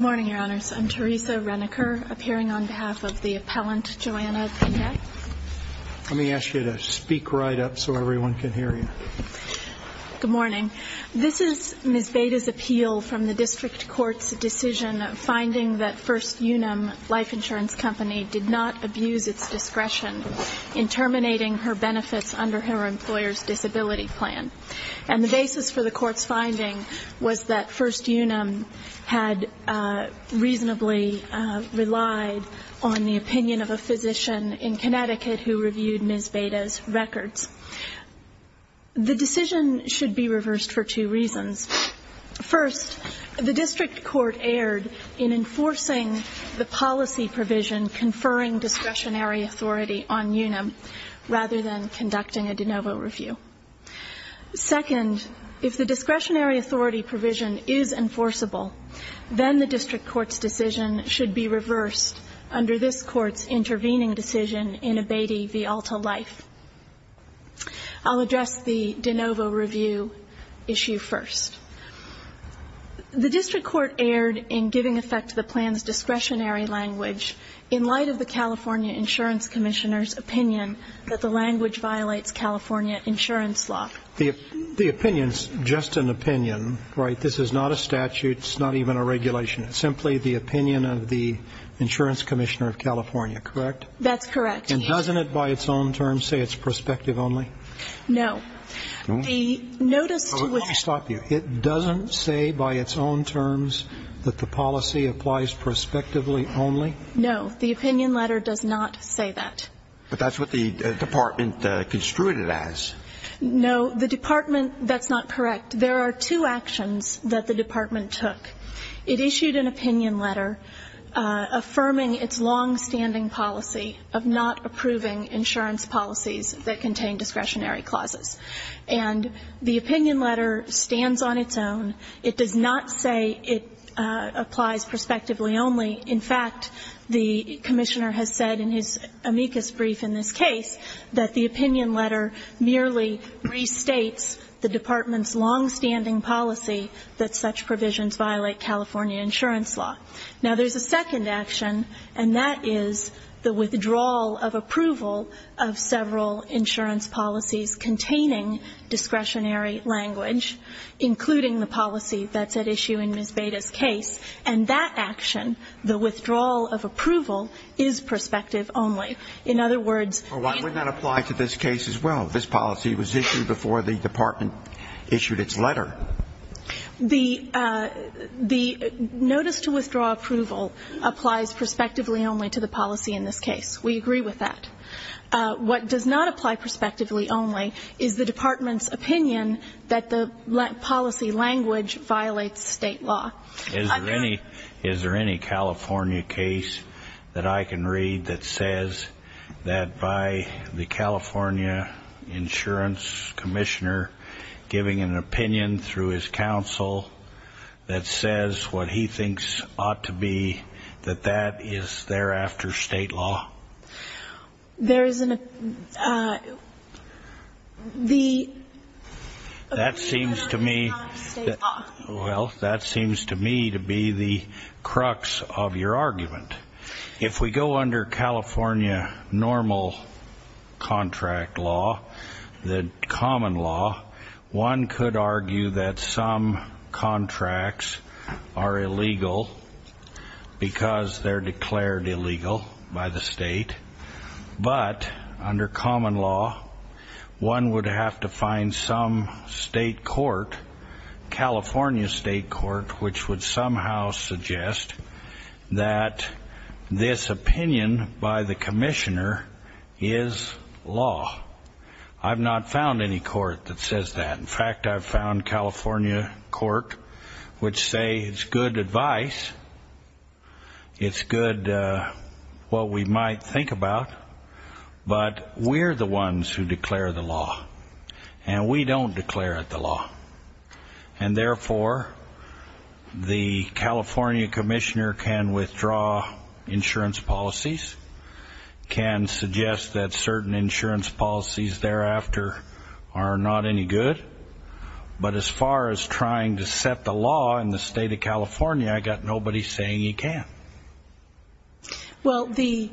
Good morning, Your Honors. I'm Teresa Reneker, appearing on behalf of the appellant, Joanna Pineda. Let me ask you to speak right up so everyone can hear you. Good morning. This is Ms. Baida's appeal from the district court's decision finding that First Unum Life Insurance Company did not abuse its discretion in terminating her benefits under her employer's disability plan. And the basis for the court's finding was that reasonably relied on the opinion of a physician in Connecticut who reviewed Ms. Baida's records. The decision should be reversed for two reasons. First, the district court erred in enforcing the policy provision conferring discretionary authority on Unum, rather than conducting a de novo review. Second, if the discretionary authority provision is enforceable, then the district court's decision should be reversed under this court's intervening decision in a Baida v. Alta Life. I'll address the de novo review issue first. The district court erred in giving effect to the plan's discretionary language in light of the California Insurance Commissioner's opinion that the language violates California insurance law. The opinion's just an opinion, right? This is not a statute. It's not even a regulation. It's simply the opinion of the insurance commissioner of California, correct? That's correct. And doesn't it by its own terms say it's prospective only? No. The notice to which Let me stop you. It doesn't say by its own terms that the policy applies prospectively only? No. The opinion letter does not say that. But that's what the department construed it as. No. The department, that's not correct. There are two actions that the department took. It issued an opinion letter affirming its longstanding policy of not approving insurance policies that contain discretionary clauses. And the opinion letter stands on its own. It does not say it applies prospectively only. In fact, the commissioner has said in his brief in this case that the opinion letter merely restates the department's longstanding policy that such provisions violate California insurance law. Now there's a second action, and that is the withdrawal of approval of several insurance policies containing discretionary language, including the policy that's at issue in Ms. Beda's case. And that action, the withdrawal of approval, is prospective only. In other words Well, why would that apply to this case as well? This policy was issued before the department issued its letter. The notice to withdraw approval applies prospectively only to the policy in this case. We agree with that. What does not apply prospectively only is the department's opinion that the policy language violates state law. Is there any California case that I can read that says that by the California insurance commissioner giving an opinion through his counsel that says what he thinks ought to be that that is thereafter state law? There is an opinion that is not state law. Well, that seems to me to be the crux of your argument. If we go under California normal contract law, the common law, one could argue that some contracts are illegal because they're declared illegal by the state. But under common law, one would have to find some state court, California state court, which would somehow suggest that this opinion by the commissioner is law. I've not found any court that says that. In fact, I've found California court which say it's good advice. It's good what we might think about. But we're the ones who declare it the law. And therefore, the California commissioner can withdraw insurance policies, can suggest that certain insurance policies thereafter are not any good. But as far as trying to set the law in the state of California, I've got nobody saying you can. Well, the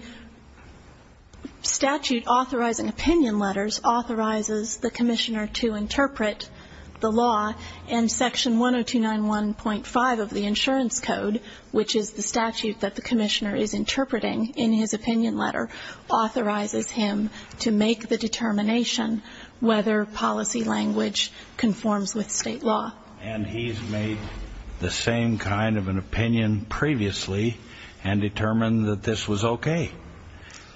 statute authorizing opinion letters authorizes the commissioner to interpret the law. And section 10291.5 of the insurance code, which is the statute that the commissioner is interpreting in his opinion letter, authorizes him to make the determination whether policy language conforms with state law. And he's made the same kind of an opinion previously and determined that this was okay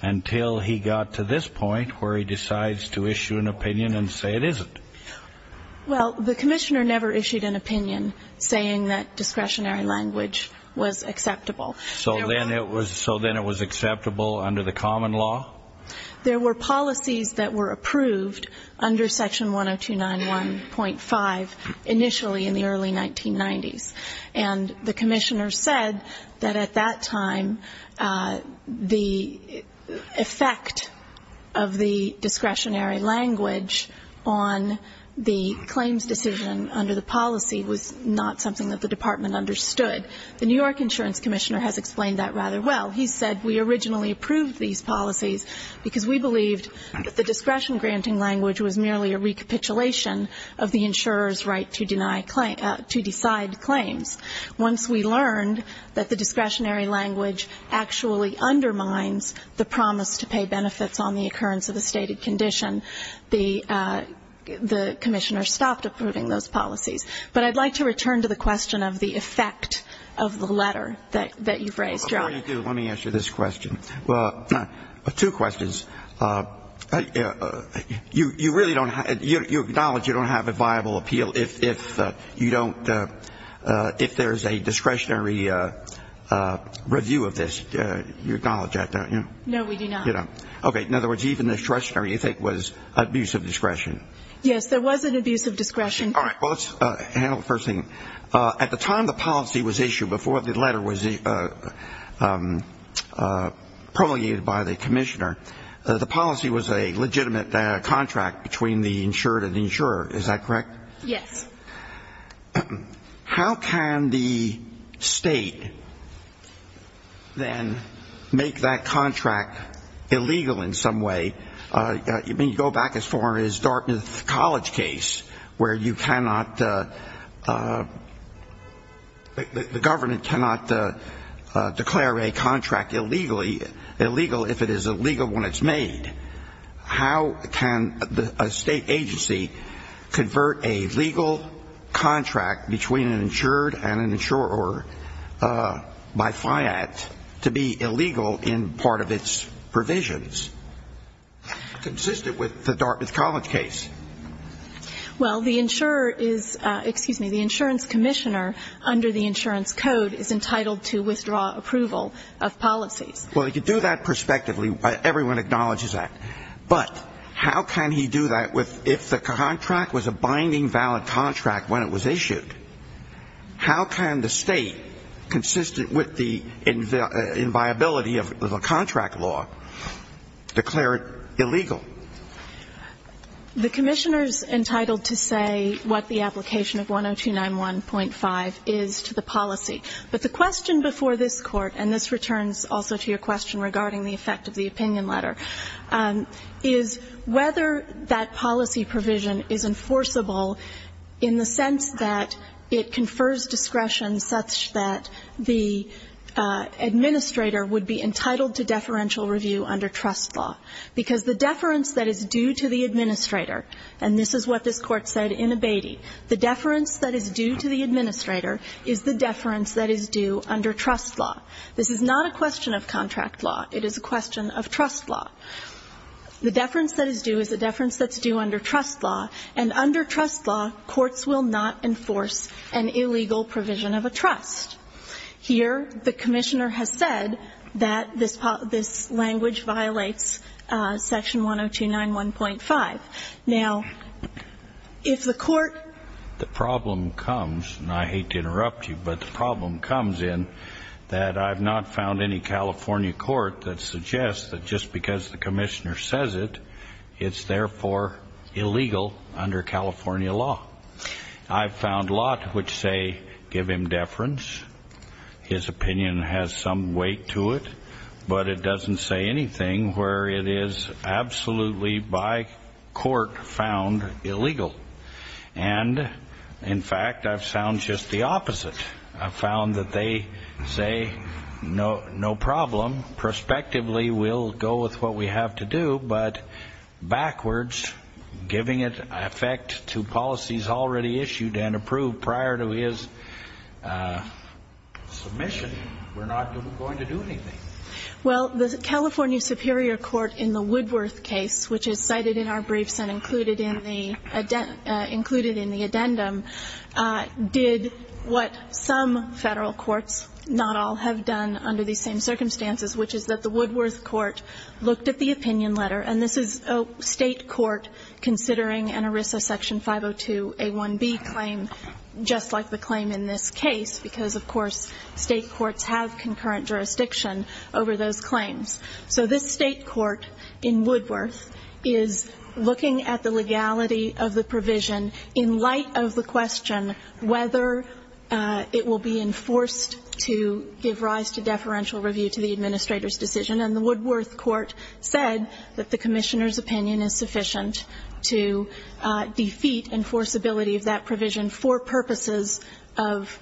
until he got to this point where he decides to issue an opinion and say it isn't. Well, the commissioner never issued an opinion saying that discretionary language was acceptable. So then it was acceptable under the common law? There were policies that were approved under section 10291.5 initially in the early 1990s. And the commissioner said that at that time the effect of the discretionary language on the claims decision under the policy was not something that the department understood. The New York insurance commissioner has explained that rather well. He said we originally approved these policies because we believed that the discretion granting language was merely a recapitulation of the insurer's right to decide claims. Once we learned that the discretionary language actually undermines the promise to pay benefits on the occurrence of a stated condition, the commissioner stopped approving those policies. But I'd like to return to the question of the effect of the letter that you've raised, John. Let me answer this question. Two questions. You acknowledge you don't have a viable appeal if there's a discretionary review of this. You acknowledge that, don't you? No, we do not. Okay. In other words, even discretionary, you think, was abuse of discretion. Yes, there was an abuse of discretion. All right. Well, let's handle the first thing. At the time the policy was issued, before the letter was promulgated by the commissioner, the policy was a legitimate contract between the insured and the insurer. Is that correct? Yes. How can the state then make that contract illegal in some way? I mean, go back as far as Dartmouth College case where you cannot, the government cannot declare a contract illegal if it is illegal when it's made. How can a state agency convert a legal contract between an insured and an insurer by FIAT to be illegal in part of its provisions? Consistent with the Dartmouth College case. Well, the insurer is, excuse me, the insurance commissioner under the insurance code is entitled to withdraw approval of policies. Well, you do that prospectively. Everyone acknowledges that. But how can he do that if the contract was a binding valid contract when it was issued? How can the state, consistent with the inviability of the contract law, declare it illegal? The commissioner is entitled to say what the application of 10291.5 is to the policy. But the question before this Court, and this returns also to your question regarding the effect of the opinion letter, is whether that policy provision is enforceable in the sense that it confers discretion such that the administrator would be entitled to deferential review under trust law. Because the deference that is due to the administrator, and this is what this Court said in Abatey, the deference that is due to the administrator is the deference that is due under trust law. This is not a question of contract law. It is a question of trust law. The deference that is due is a deference that's due under trust law. And under trust law, courts will not enforce an illegal provision of a trust. Here, the commissioner has said that this language violates section 10291.5. Now, if the court... The problem comes, and I hate to interrupt you, but the problem comes in that I've not found any California court that suggests that just because the commissioner says it, it's therefore illegal under California law. I've found a lot which say, give him deference. His opinion has some weight to it, but it doesn't say anything where it is absolutely, by court, found illegal. And, in fact, I've found just the opposite. I've found that they say, no problem, prospectively we'll go with what we have to do, but backwards, giving it effect to policies already issued and approved prior to his submission, we're not going to do anything. Well, the California Superior Court in the Woodworth case, which is cited in our briefs and included in the addendum, did what some Federal courts, not all, have done under these same circumstances, which is that the Woodworth court looked at the opinion letter, and this is a State court considering an ERISA section 502a1b claim, just like the claim in this case, because, of course, State courts have concurrent jurisdiction over those claims. So this State court in Woodworth is looking at the legality of the provision in light of the question whether it will be enforced to give rise to deferential review to the Administrator's decision, and the Woodworth court said that the Commissioner's opinion is sufficient to defeat enforceability of that provision for purposes of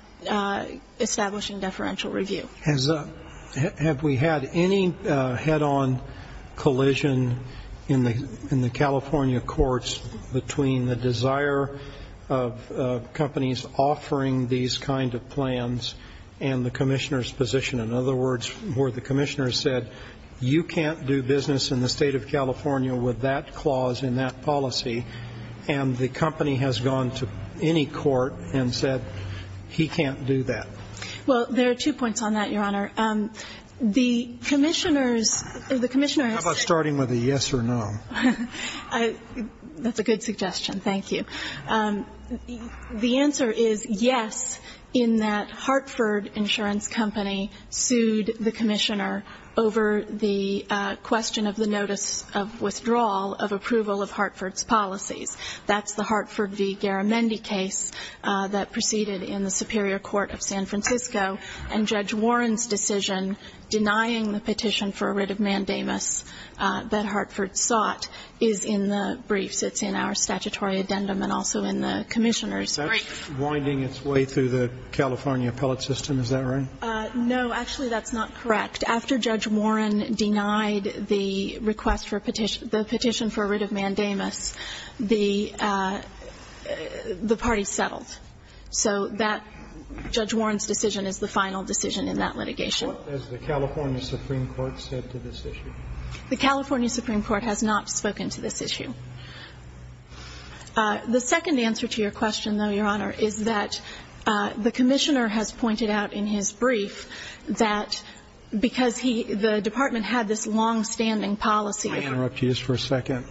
establishing deferential review. Have we had any head-on collision in the California courts between the desire of companies offering these kind of plans and the Commissioner's position? In other words, where the Commissioner said you can't do business in the State of California with that clause and that policy, and the company has gone to any court and said he can't do that? Well, there are two points on that, Your Honor. The Commissioner's... How about starting with a yes or no? That's a good suggestion. Thank you. The answer is yes, in that Hartford Insurance Company sued the Commissioner over the question of the notice of withdrawal of approval of Hartford's policies. That's the Hartford v. Garamendi case that proceeded in the Superior Court of San Francisco, and Judge Warren's decision denying the petition for a writ of mandamus that Hartford sought is in the briefs. It's in our statutory addendum and also in the Commissioner's briefs. That's winding its way through the California appellate system, is that right? No. Actually, that's not correct. After Judge Warren denied the request for a petition for a writ of mandamus, the party settled. So Judge Warren's decision is the final decision in that litigation. What has the California Supreme Court said to this issue? The California Supreme Court has not spoken to this issue. The second answer to your question, though, Your Honor, is that the Commissioner has pointed out in his brief that because the Department had this long-standing policy of May I interrupt you just for a second?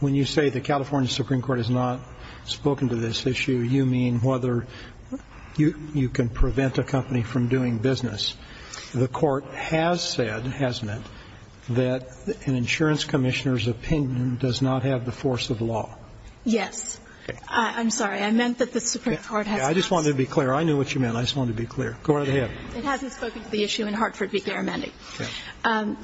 When you say the California Supreme Court has not spoken to this issue, you mean whether you can prevent a company from doing business. The Court has said, has meant, that an insurance Commissioner's opinion does not have the force of law. Yes. I'm sorry. I meant that the Supreme Court has not said I just wanted to be clear. I knew what you meant. I just wanted to be clear. Go right ahead. It hasn't spoken to the issue in Hartford v. Garamendi. Okay.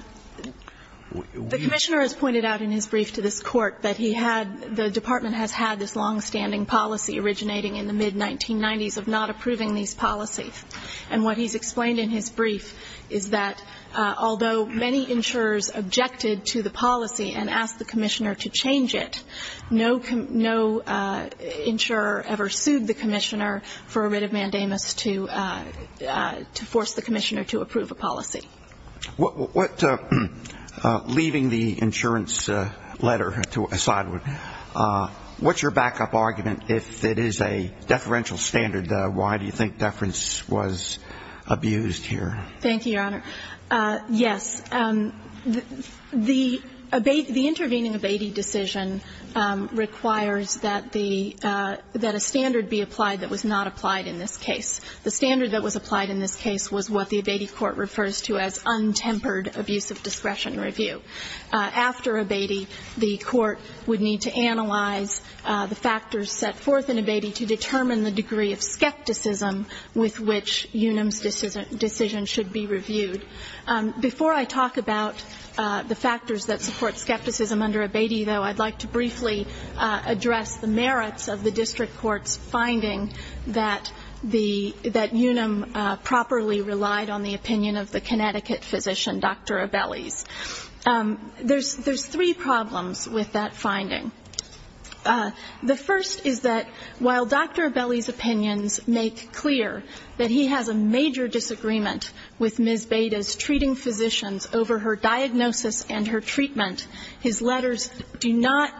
The Commissioner has pointed out in his brief to this Court that he had, the Department has had this long-standing policy originating in the mid-1990s of not approving these policies. And what he's explained in his brief is that although many insurers objected to the policy and asked the Commissioner to change it, no insurer ever sued the Commissioner for a writ of mandamus to force the Commissioner to approve a policy. Leaving the insurance letter to a side note, what's your backup argument if it is a deferential standard? Why do you think deference was abused here? Thank you, Your Honor. Yes. The abating, the intervening abating decision requires that the, that a standard be applied that was not applied in this case. The standard that was applied in this case was what the abating court refers to as untempered abuse of discretion review. After abating, the court would need to analyze the factors set forth in abating to determine the degree of skepticism with which Unum's decision should be reviewed. Before I talk about the factors that support skepticism under abating, though, I'd like to briefly address the merits of the District Court's finding that the, that Unum properly relied on the opinion of the Connecticut physician, Dr. Abelli's. There's three problems with that finding. The first is that while Dr. Abelli's opinions make clear that he has a major disagreement with Ms. Beda's treating physicians over her diagnosis and her treatment, his letters do not,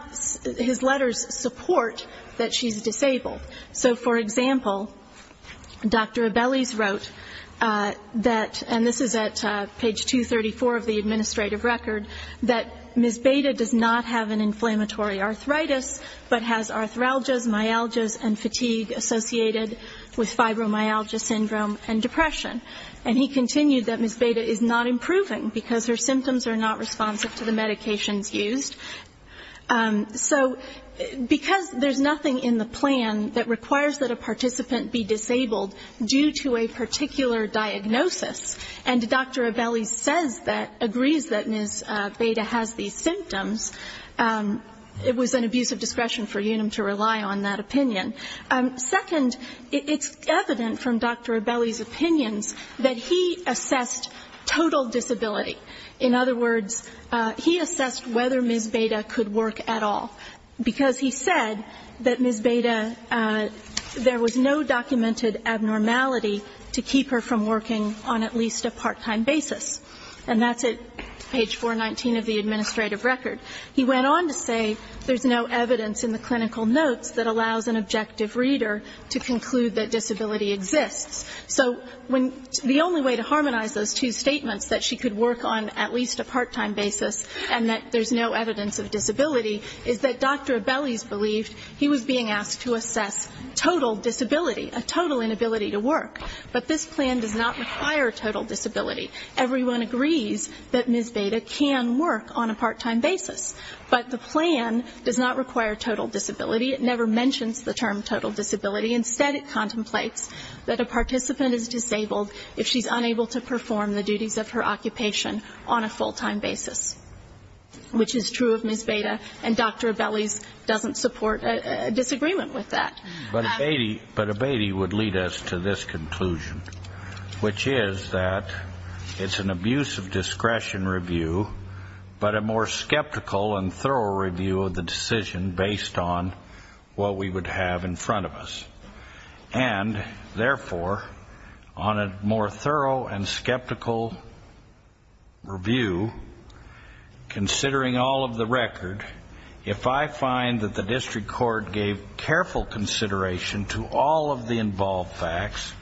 his letters support that she's disabled. So for example, Dr. Abelli's wrote that, and this is at page 234 of the administrative record, that Ms. Beda does not have an inflammatory arthritis, but has arthralgias, myalgias and fatigue associated with fibromyalgia syndrome and depression. And he continued that Ms. Beda is not improving because her symptoms are not responsive to the medications used. So because there's nothing in the plan that requires that a patient, Ms. Beda, has these symptoms, it was an abuse of discretion for Unum to rely on that opinion. Second, it's evident from Dr. Abelli's opinions that he assessed total disability. In other words, he assessed whether Ms. Beda could work at all, because he said that Ms. Beda, there was no documented abnormality to keep her from working on at least a part-time basis. And that's at page 419 of the administrative record. He went on to say there's no evidence in the clinical notes that allows an objective reader to conclude that disability exists. So the only way to harmonize those two statements, that she could work on at least a part-time basis and that there's no evidence of disability, is that Dr. Abelli's believed he was being asked to assess total disability, a total inability to work. But this plan does not require total disability. Everyone agrees that Ms. Beda can work on a part-time basis. But the plan does not require total disability. It never mentions the term total disability. Instead, it contemplates that a participant is disabled if she's unable to work, which is true of Ms. Beda. And Dr. Abelli's doesn't support a disagreement with that. But Abedi would lead us to this conclusion, which is that it's an abuse of discretion review, but a more skeptical and thorough review of the decision based on what we would have in front of us. And therefore, on a more thorough and skeptical review, considering all of the record, if I find that the district court gave careful consideration to all of the involved facts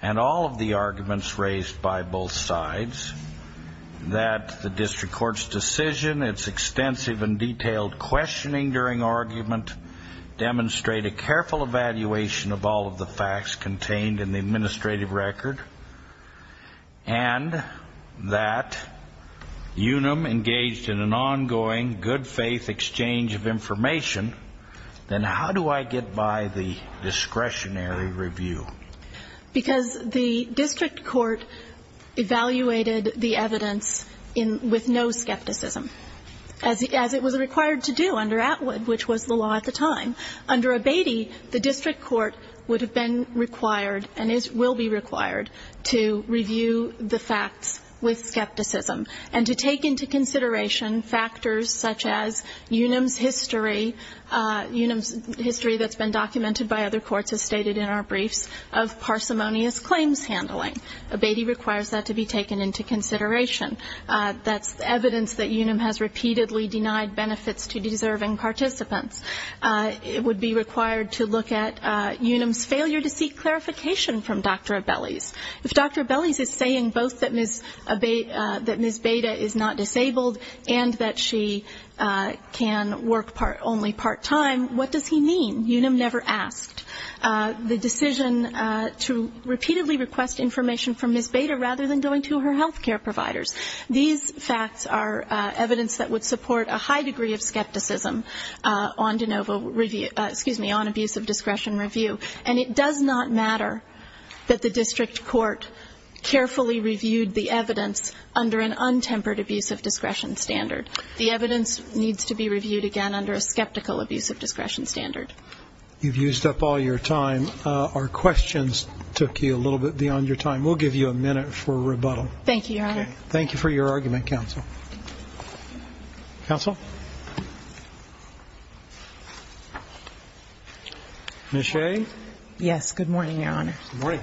and all of the arguments raised by both sides, that the district court's decision, its extensive and detailed questioning during argument demonstrate a careful evaluation of all of the facts contained in the discretionary review. Because the district court evaluated the evidence with no skepticism, as it was required to do under Atwood, which was the law at the time. Under Abedi, the district court would have been required and will be required to review the facts with consideration, factors such as Unum's history, Unum's history that's been documented by other courts, as stated in our briefs, of parsimonious claims handling. Abedi requires that to be taken into consideration. That's evidence that Unum has repeatedly denied benefits to deserving participants. It would be required to look at Unum's failure to seek clarification from Dr. Abelli's. If Dr. Abelli's is saying both that Ms. Beda is not disabled and that she can work only part-time, what does he mean? Unum never asked. The decision to repeatedly request information from Ms. Beda rather than going to her health care providers. These facts are evidence that would support a high degree of skepticism on abuse of discretion review. And it does not matter that the district court carefully reviewed the evidence under an untempered abuse of discretion standard. The evidence needs to be reviewed again under a skeptical abuse of discretion standard. You've used up all your time. Our questions took you a little bit beyond your time. We'll give you a minute for rebuttal. Thank you, Your Honor. Thank you for your argument, counsel. Counsel? Ms. Shea? Yes. Good morning, Your Honor. Good morning.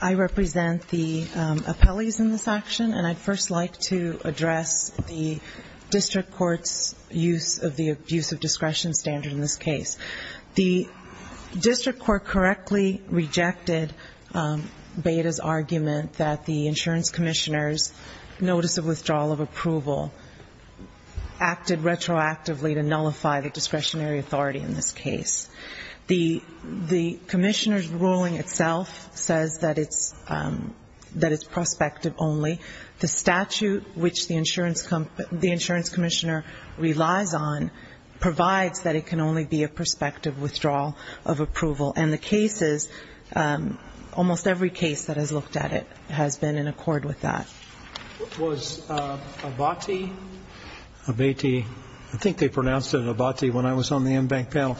I represent the appellees in this action, and I'd first like to address the district court's use of the abuse of discretion standard in this case. The district court correctly rejected Beda's argument that the insurance commissioner's notice of withdrawal of approval acted retroactively to nullify the discretionary authority in this case. The commissioner's ruling itself says that it's prospective only. The statute which the insurance commissioner relies on provides that it can only be a prospective withdrawal of approval. And the cases, almost every case that has looked at it has been in accord with that. Was Abati, I think they pronounced it Abati when I was on the in-bank panel,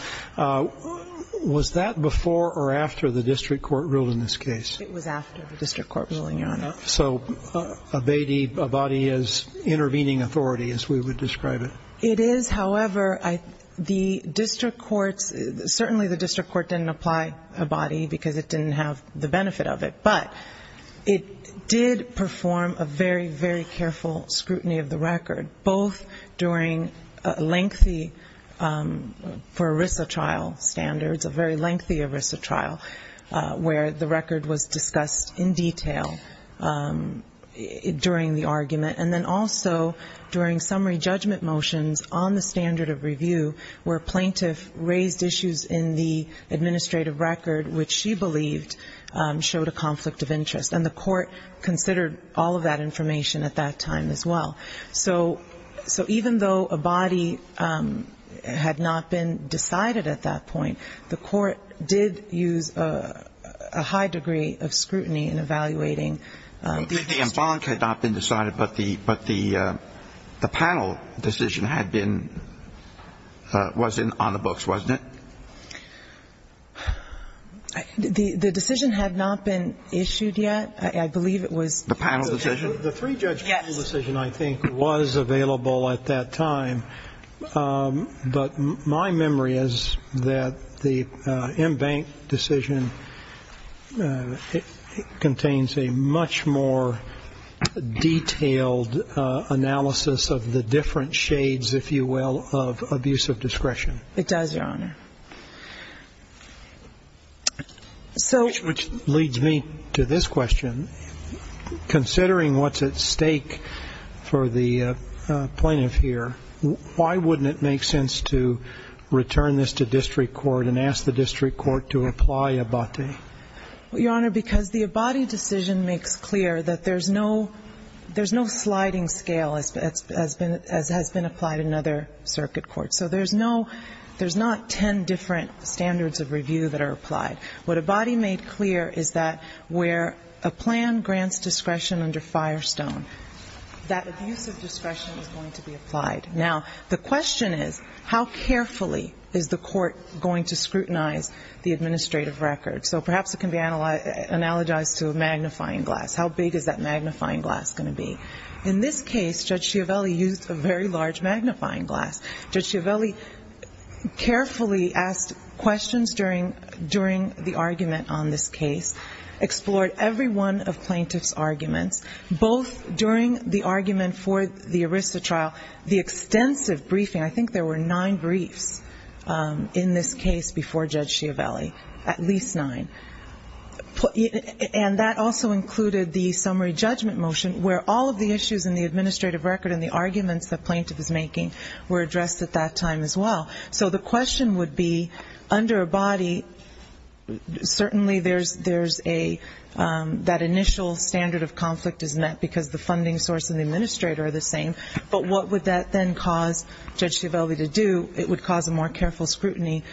was that before or after the district court ruled in this case? It was after the district court ruling, Your Honor. So Abati is intervening authority, as we would describe it? It is, however, the district court's, certainly the district court didn't apply Abati because it didn't have the benefit of it, but it did perform a very, very careful scrutiny of the record, both during a lengthy, for ERISA trial standards, a very lengthy ERISA trial where the record was discussed in detail during the argument, and then also during summary judgment motions on the standard of review where a plaintiff raised issues in the administrative record which she believed showed a conflict of interest. And the court considered all of that information at that time as well. So even though Abati had not been decided at that point, the court did use a high degree of scrutiny in evaluating the institution. The in-bank had not been decided, but the panel decision had been, was on the books, wasn't it? The decision had not been issued yet. I believe it was the panel decision. The three-judge panel decision, I think, was available at that time, but my memory is that the in-bank decision contains a much more detailed analysis of the different shades, if you will, of abuse of discretion. It does, Your Honor. Which leads me to this question. Considering what's at stake for the plaintiff here, why wouldn't it make sense to return this to district court and ask the district court to apply Abati? Well, Your Honor, because the Abati decision makes clear that there's no sliding scale as has been applied in other circuit courts. So there's not ten different standards of review that are applied. What Abati made clear is that where a plan is applied. Now, the question is, how carefully is the court going to scrutinize the administrative record? So perhaps it can be analogized to a magnifying glass. How big is that magnifying glass going to be? In this case, Judge Schiavelli used a very large magnifying glass. Judge Schiavelli carefully asked questions during the argument on this case, explored every one of plaintiff's arguments, both during the ERISA trial, the extensive briefing. I think there were nine briefs in this case before Judge Schiavelli. At least nine. And that also included the summary judgment motion, where all of the issues in the administrative record and the arguments the plaintiff is making were addressed at that time as well. So the question would be, under Abati, certainly there's a, that initial standard of review, but what would that then cause Judge Schiavelli to do? It would cause a more careful scrutiny,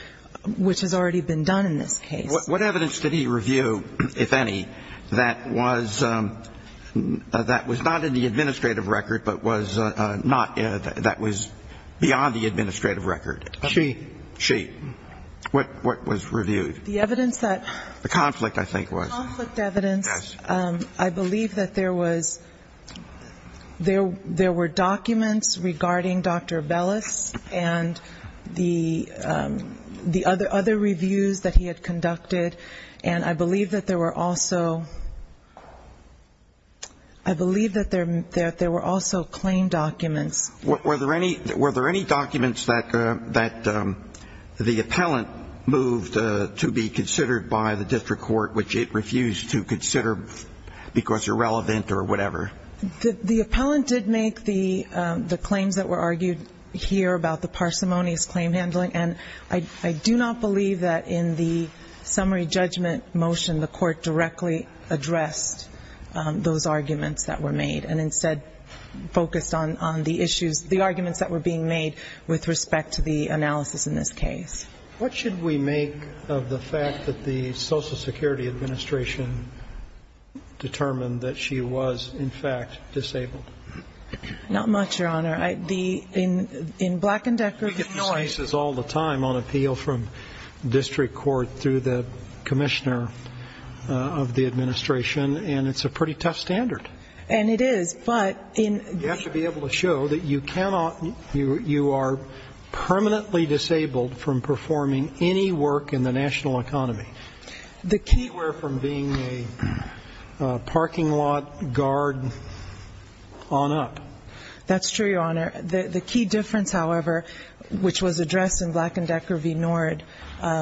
which has already been done in this case. What evidence did he review, if any, that was not in the administrative record, but was not, that was beyond the administrative record? She. She. What was reviewed? The evidence that the conflict, I think, was. The conflict evidence, I believe that there was, there were documents regarding Dr. Bellis and the other reviews that he had conducted, and I believe that there were also, I believe that there were also claim documents. Were there any documents that the appellant moved to be considered by the district court, which it refused to consider because irrelevant or whatever? The appellant did make the claims that were argued here about the parsimonious claim handling, and I do not believe that in the summary judgment motion the court directly addressed those arguments that were made, and instead focused on the issues, the arguments that were being made with respect to the analysis in this case. What should we make of the fact that the Social Security Administration determined that she was, in fact, disabled? Not much, Your Honor. In Black and Decker. We get these cases all the time on appeal from district court through the commissioner of the administration, and it's a pretty tough standard. And it is, but. You have to be able to show that you cannot, you are permanently disabled from performing any work in the national economy. The key where from being a parking lot guard on up. That's true, Your Honor. The key difference, however, which was addressed in Black and Decker v. Nord by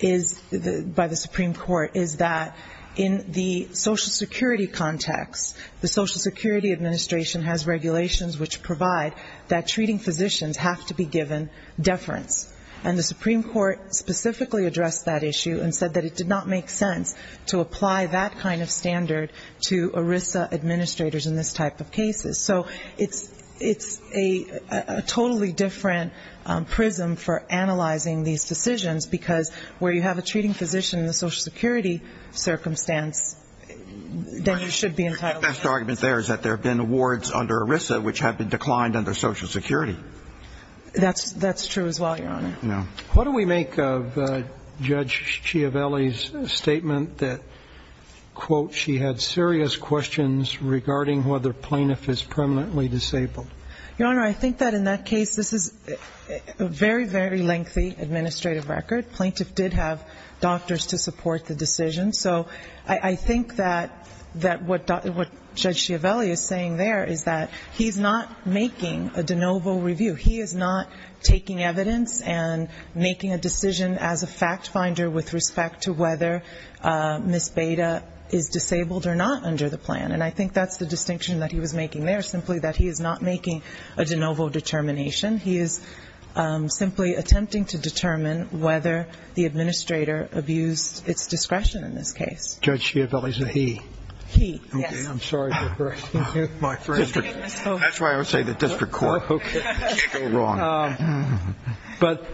the Supreme Court is that in the Social Security context, the Social Security Administration has regulations which provide that treating physicians have to be given deference, and the Supreme Court specifically addressed that issue and said that it did not make sense to apply that kind of standard to ERISA administrators in this type of cases. So it's a totally different prism for analyzing these decisions, because where you have a the last argument there is that there have been awards under ERISA which have been declined under Social Security. That's true as well, Your Honor. What do we make of Judge Chiavelli's statement that, quote, she had serious questions regarding whether plaintiff is permanently disabled? Your Honor, I think that in that case, this is a very, very lengthy administrative record. Plaintiff did have doctors to support the decision. So I think that what Judge Chiavelli is saying there is that he's not making a de novo review. He is not taking evidence and making a decision as a fact finder with respect to whether Ms. Beda is disabled or not under the plan. And I think that's the distinction that he was making there, simply that he is not making a de novo determination. He is simply attempting to determine whether the administrator abused its discretion in this case. Judge Chiavelli's a he. That's why I would say the district court. But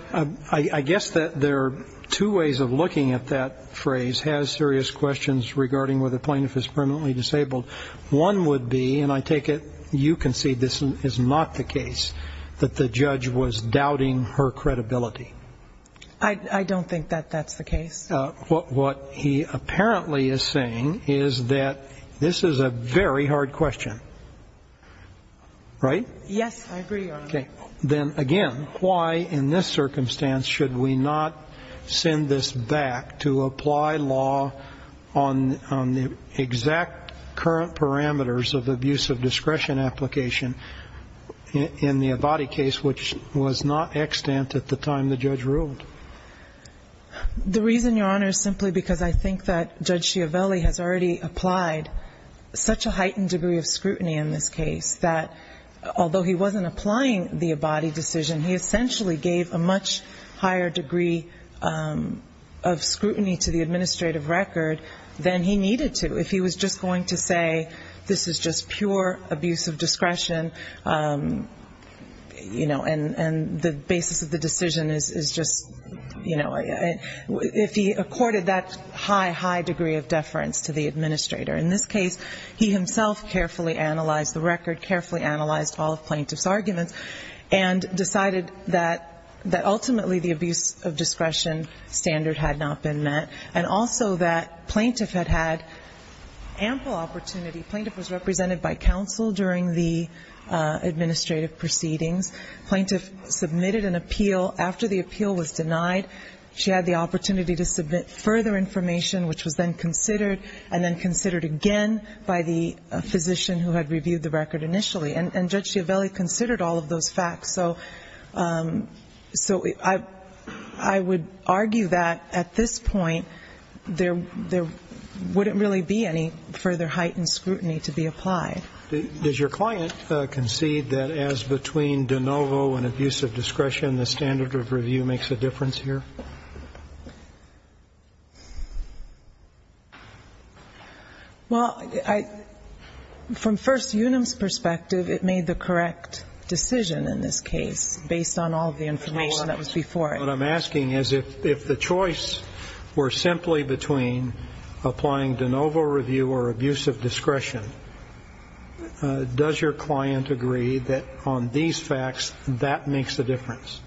I guess that there are two ways of looking at that phrase, has serious questions regarding whether plaintiff is permanently disabled. One would be, and I take it you concede this is not the case, that the judge was doubting her credibility. I don't think that that's the case. What he apparently is saying is that this is a very hard question, right? Yes, I agree, Your Honor. Then again, why in this circumstance should we not send this back to apply law on the exact current parameters of abuse of discretion application in the Abadi case, which was not extant at the time the judge ruled? The reason, Your Honor, is simply because I think that Judge Chiavelli has already applied such a heightened degree of scrutiny in this case that although he wasn't applying the Abadi decision, he essentially gave a much higher degree of scrutiny to the plaintiff's argument and decided that ultimately the abuse of discretion standard had not been met, and also that plaintiff had had ample opportunity. Plaintiff was represented by counsel during the administrative proceedings. Plaintiff submitted an appeal. After the appeal was denied, she had the opportunity to submit further information, which was then considered, and then considered again by the physician who had reviewed the record initially. And Judge Chiavelli considered all of those facts, so I would argue that at this point, there is a very high degree of heightened scrutiny to be applied. Does your client concede that as between de novo and abuse of discretion, the standard of review makes a difference here? Well, from First Unum's perspective, it made the correct decision in this case based on all of the information that was before it. What I'm asking is if the choice were simply between applying de novo review or abuse of discretion, does your client agree that on these facts, that makes a difference?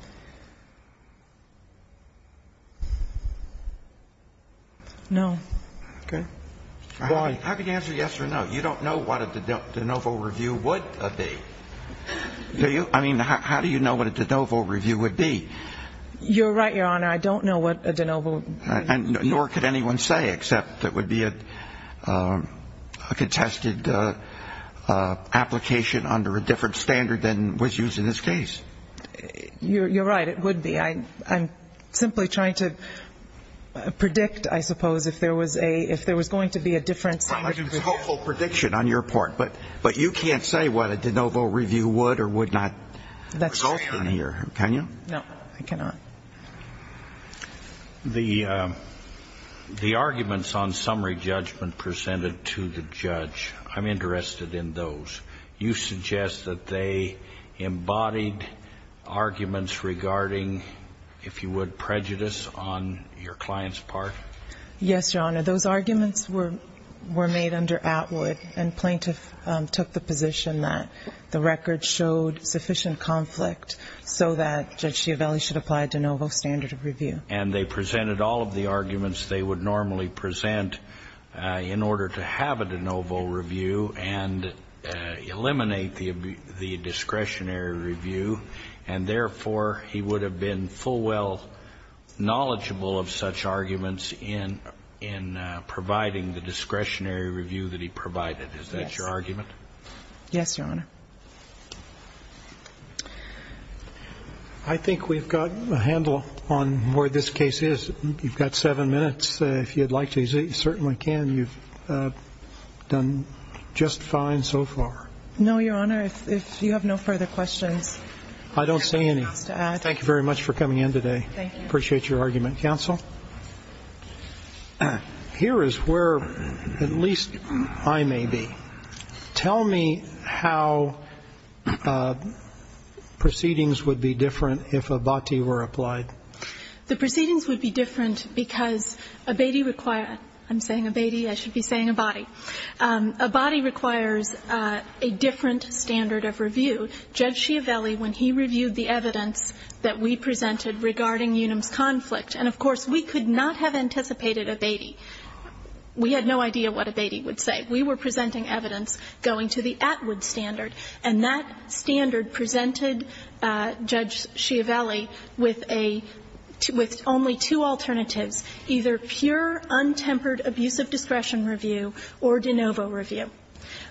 No. Okay. Why? I mean, how do you answer yes or no? You don't know what a de novo review would be. Do you? I mean, how do you know what a de novo review would be? You're right, Your Honor. I don't know what a de novo review would be. Nor could anyone say except it would be a contested application under a different standard than was used in this case. You're right. It would be. I'm simply trying to predict, I suppose, if there was going to be a different standard than was used in this case. I'm trying to make a helpful prediction on your part, but you can't say what a de novo review would or would not result in here, can you? No, I cannot. The arguments on summary judgment presented to the judge, I'm interested in those. You suggest that they embodied arguments regarding, if you would, prejudice on your client's part? Yes, Your Honor. Those arguments were made under Atwood, and plaintiff took the position that the record showed sufficient conflict so that Judge Schiavelli should apply a de novo standard of review. And they presented all of the arguments they would normally present in order to have a de novo review and eliminate the discretionary review. And therefore, he would have been full well knowledgeable of such arguments even if he had not presented them. And I'm interested in providing the discretionary review that he provided. Is that your argument? Yes, Your Honor. I think we've got a handle on where this case is. You've got seven minutes, if you'd like to. You certainly can. You've done just fine so far. No, Your Honor. If you have no further questions, I'm going to ask to add. Thank you very much for coming in today. I appreciate your argument, counsel. Here is where at least I may be. Tell me how proceedings would be different if abati were applied. The proceedings would be different because abati requires ‑‑ I'm saying abati. I should be saying abati. Abati requires a different standard of review. Judge Schiavelli, when he reviewed the evidence that we presented regarding Unum's conflict, and of course, we could not have anticipated abati. We had no idea what abati would say. We were presenting evidence going to the Atwood standard, and that standard presented Judge Schiavelli with a ‑‑ with only two alternatives, either pure, untempered, abusive discretion review or de novo review.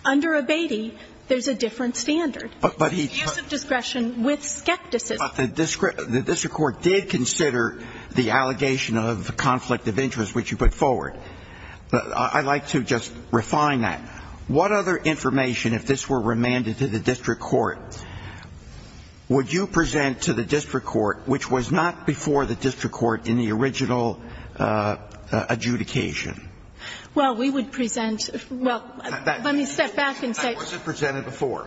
Under abati, there's a different standard. But he took ‑‑ Abusive discretion with skepticism. But the district court did consider the allegation of conflict of interest, which you put forward. I'd like to just refine that. What other information, if this were remanded to the district court, would you present to the district court which was not before the district court in the original adjudication? Well, we would present ‑‑ well, let me step back and say ‑‑ That wasn't presented before.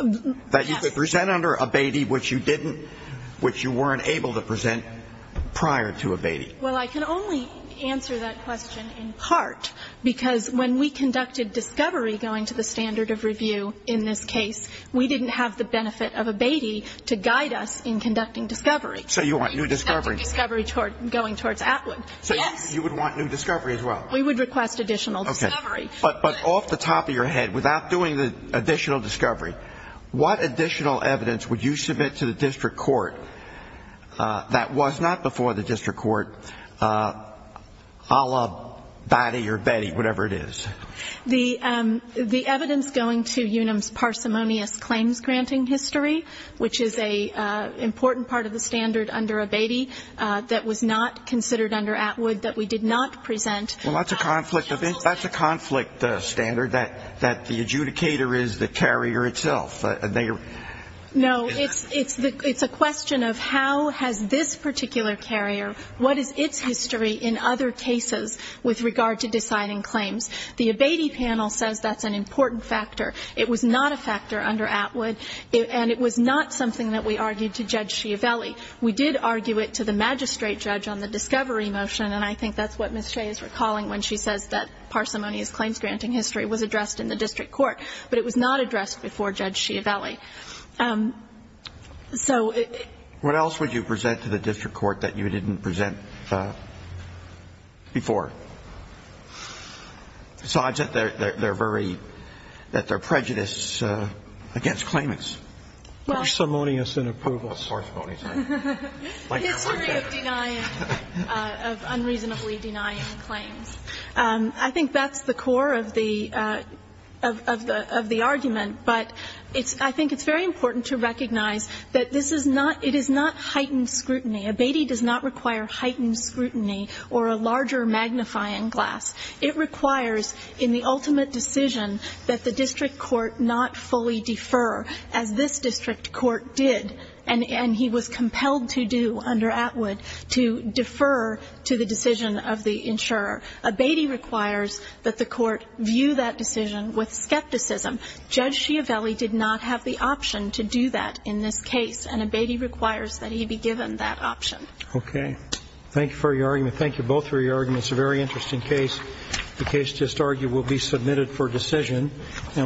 Yes. That you could present under abati which you didn't, which you weren't able to present prior to abati. Well, I can only answer that question in part because when we conducted discovery going to the standard of review in this case, we didn't have the benefit of abati to guide us in conducting discovery. So you want new discovery. We conducted discovery going towards Atwood. So you would want new discovery as well? We would request additional discovery. But off the top of your head, without doing the additional discovery, what additional evidence would you submit to the district court that was not before the district court a la abati or abeti, whatever it is? The evidence going to UNAM's parsimonious claims granting history, which is an important part of the standard under abati that was not considered under Atwood that we did not present. Well, that's a conflict standard that the adjudicator is the carrier itself. No. It's a question of how has this particular carrier, what is its history in other cases with regard to deciding claims. The abati panel says that's an important factor. It was not a factor under Atwood, and it was not something that we argued to Judge Schiavelli. We did argue it to the magistrate judge on the discovery motion, and I think that's what Ms. Shea is recalling when she says that parsimonious claims granting history was addressed in the district court. But it was not addressed before Judge Schiavelli. So it — What else would you present to the district court that you didn't present before? Besides that they're very — that they're prejudiced against claimants. Well — Parsimonious in approval. Parsimonious. History of denying — of unreasonably denying claims. I think that's the core of the — of the argument. But it's — I think it's very important to recognize that this is not — it is not heightened scrutiny. Abati does not require heightened scrutiny or a larger magnifying glass. It requires in the ultimate decision that the district court not fully defer, as this district court did. And he was compelled to do under Atwood to defer to the decision of the insurer. Abati requires that the court view that decision with skepticism. Judge Schiavelli did not have the option to do that in this case, and Abati requires that he be given that option. Okay. Thank you for your argument. Thank you both for your argument. It's a very interesting case. The case just argued will be submitted for decision.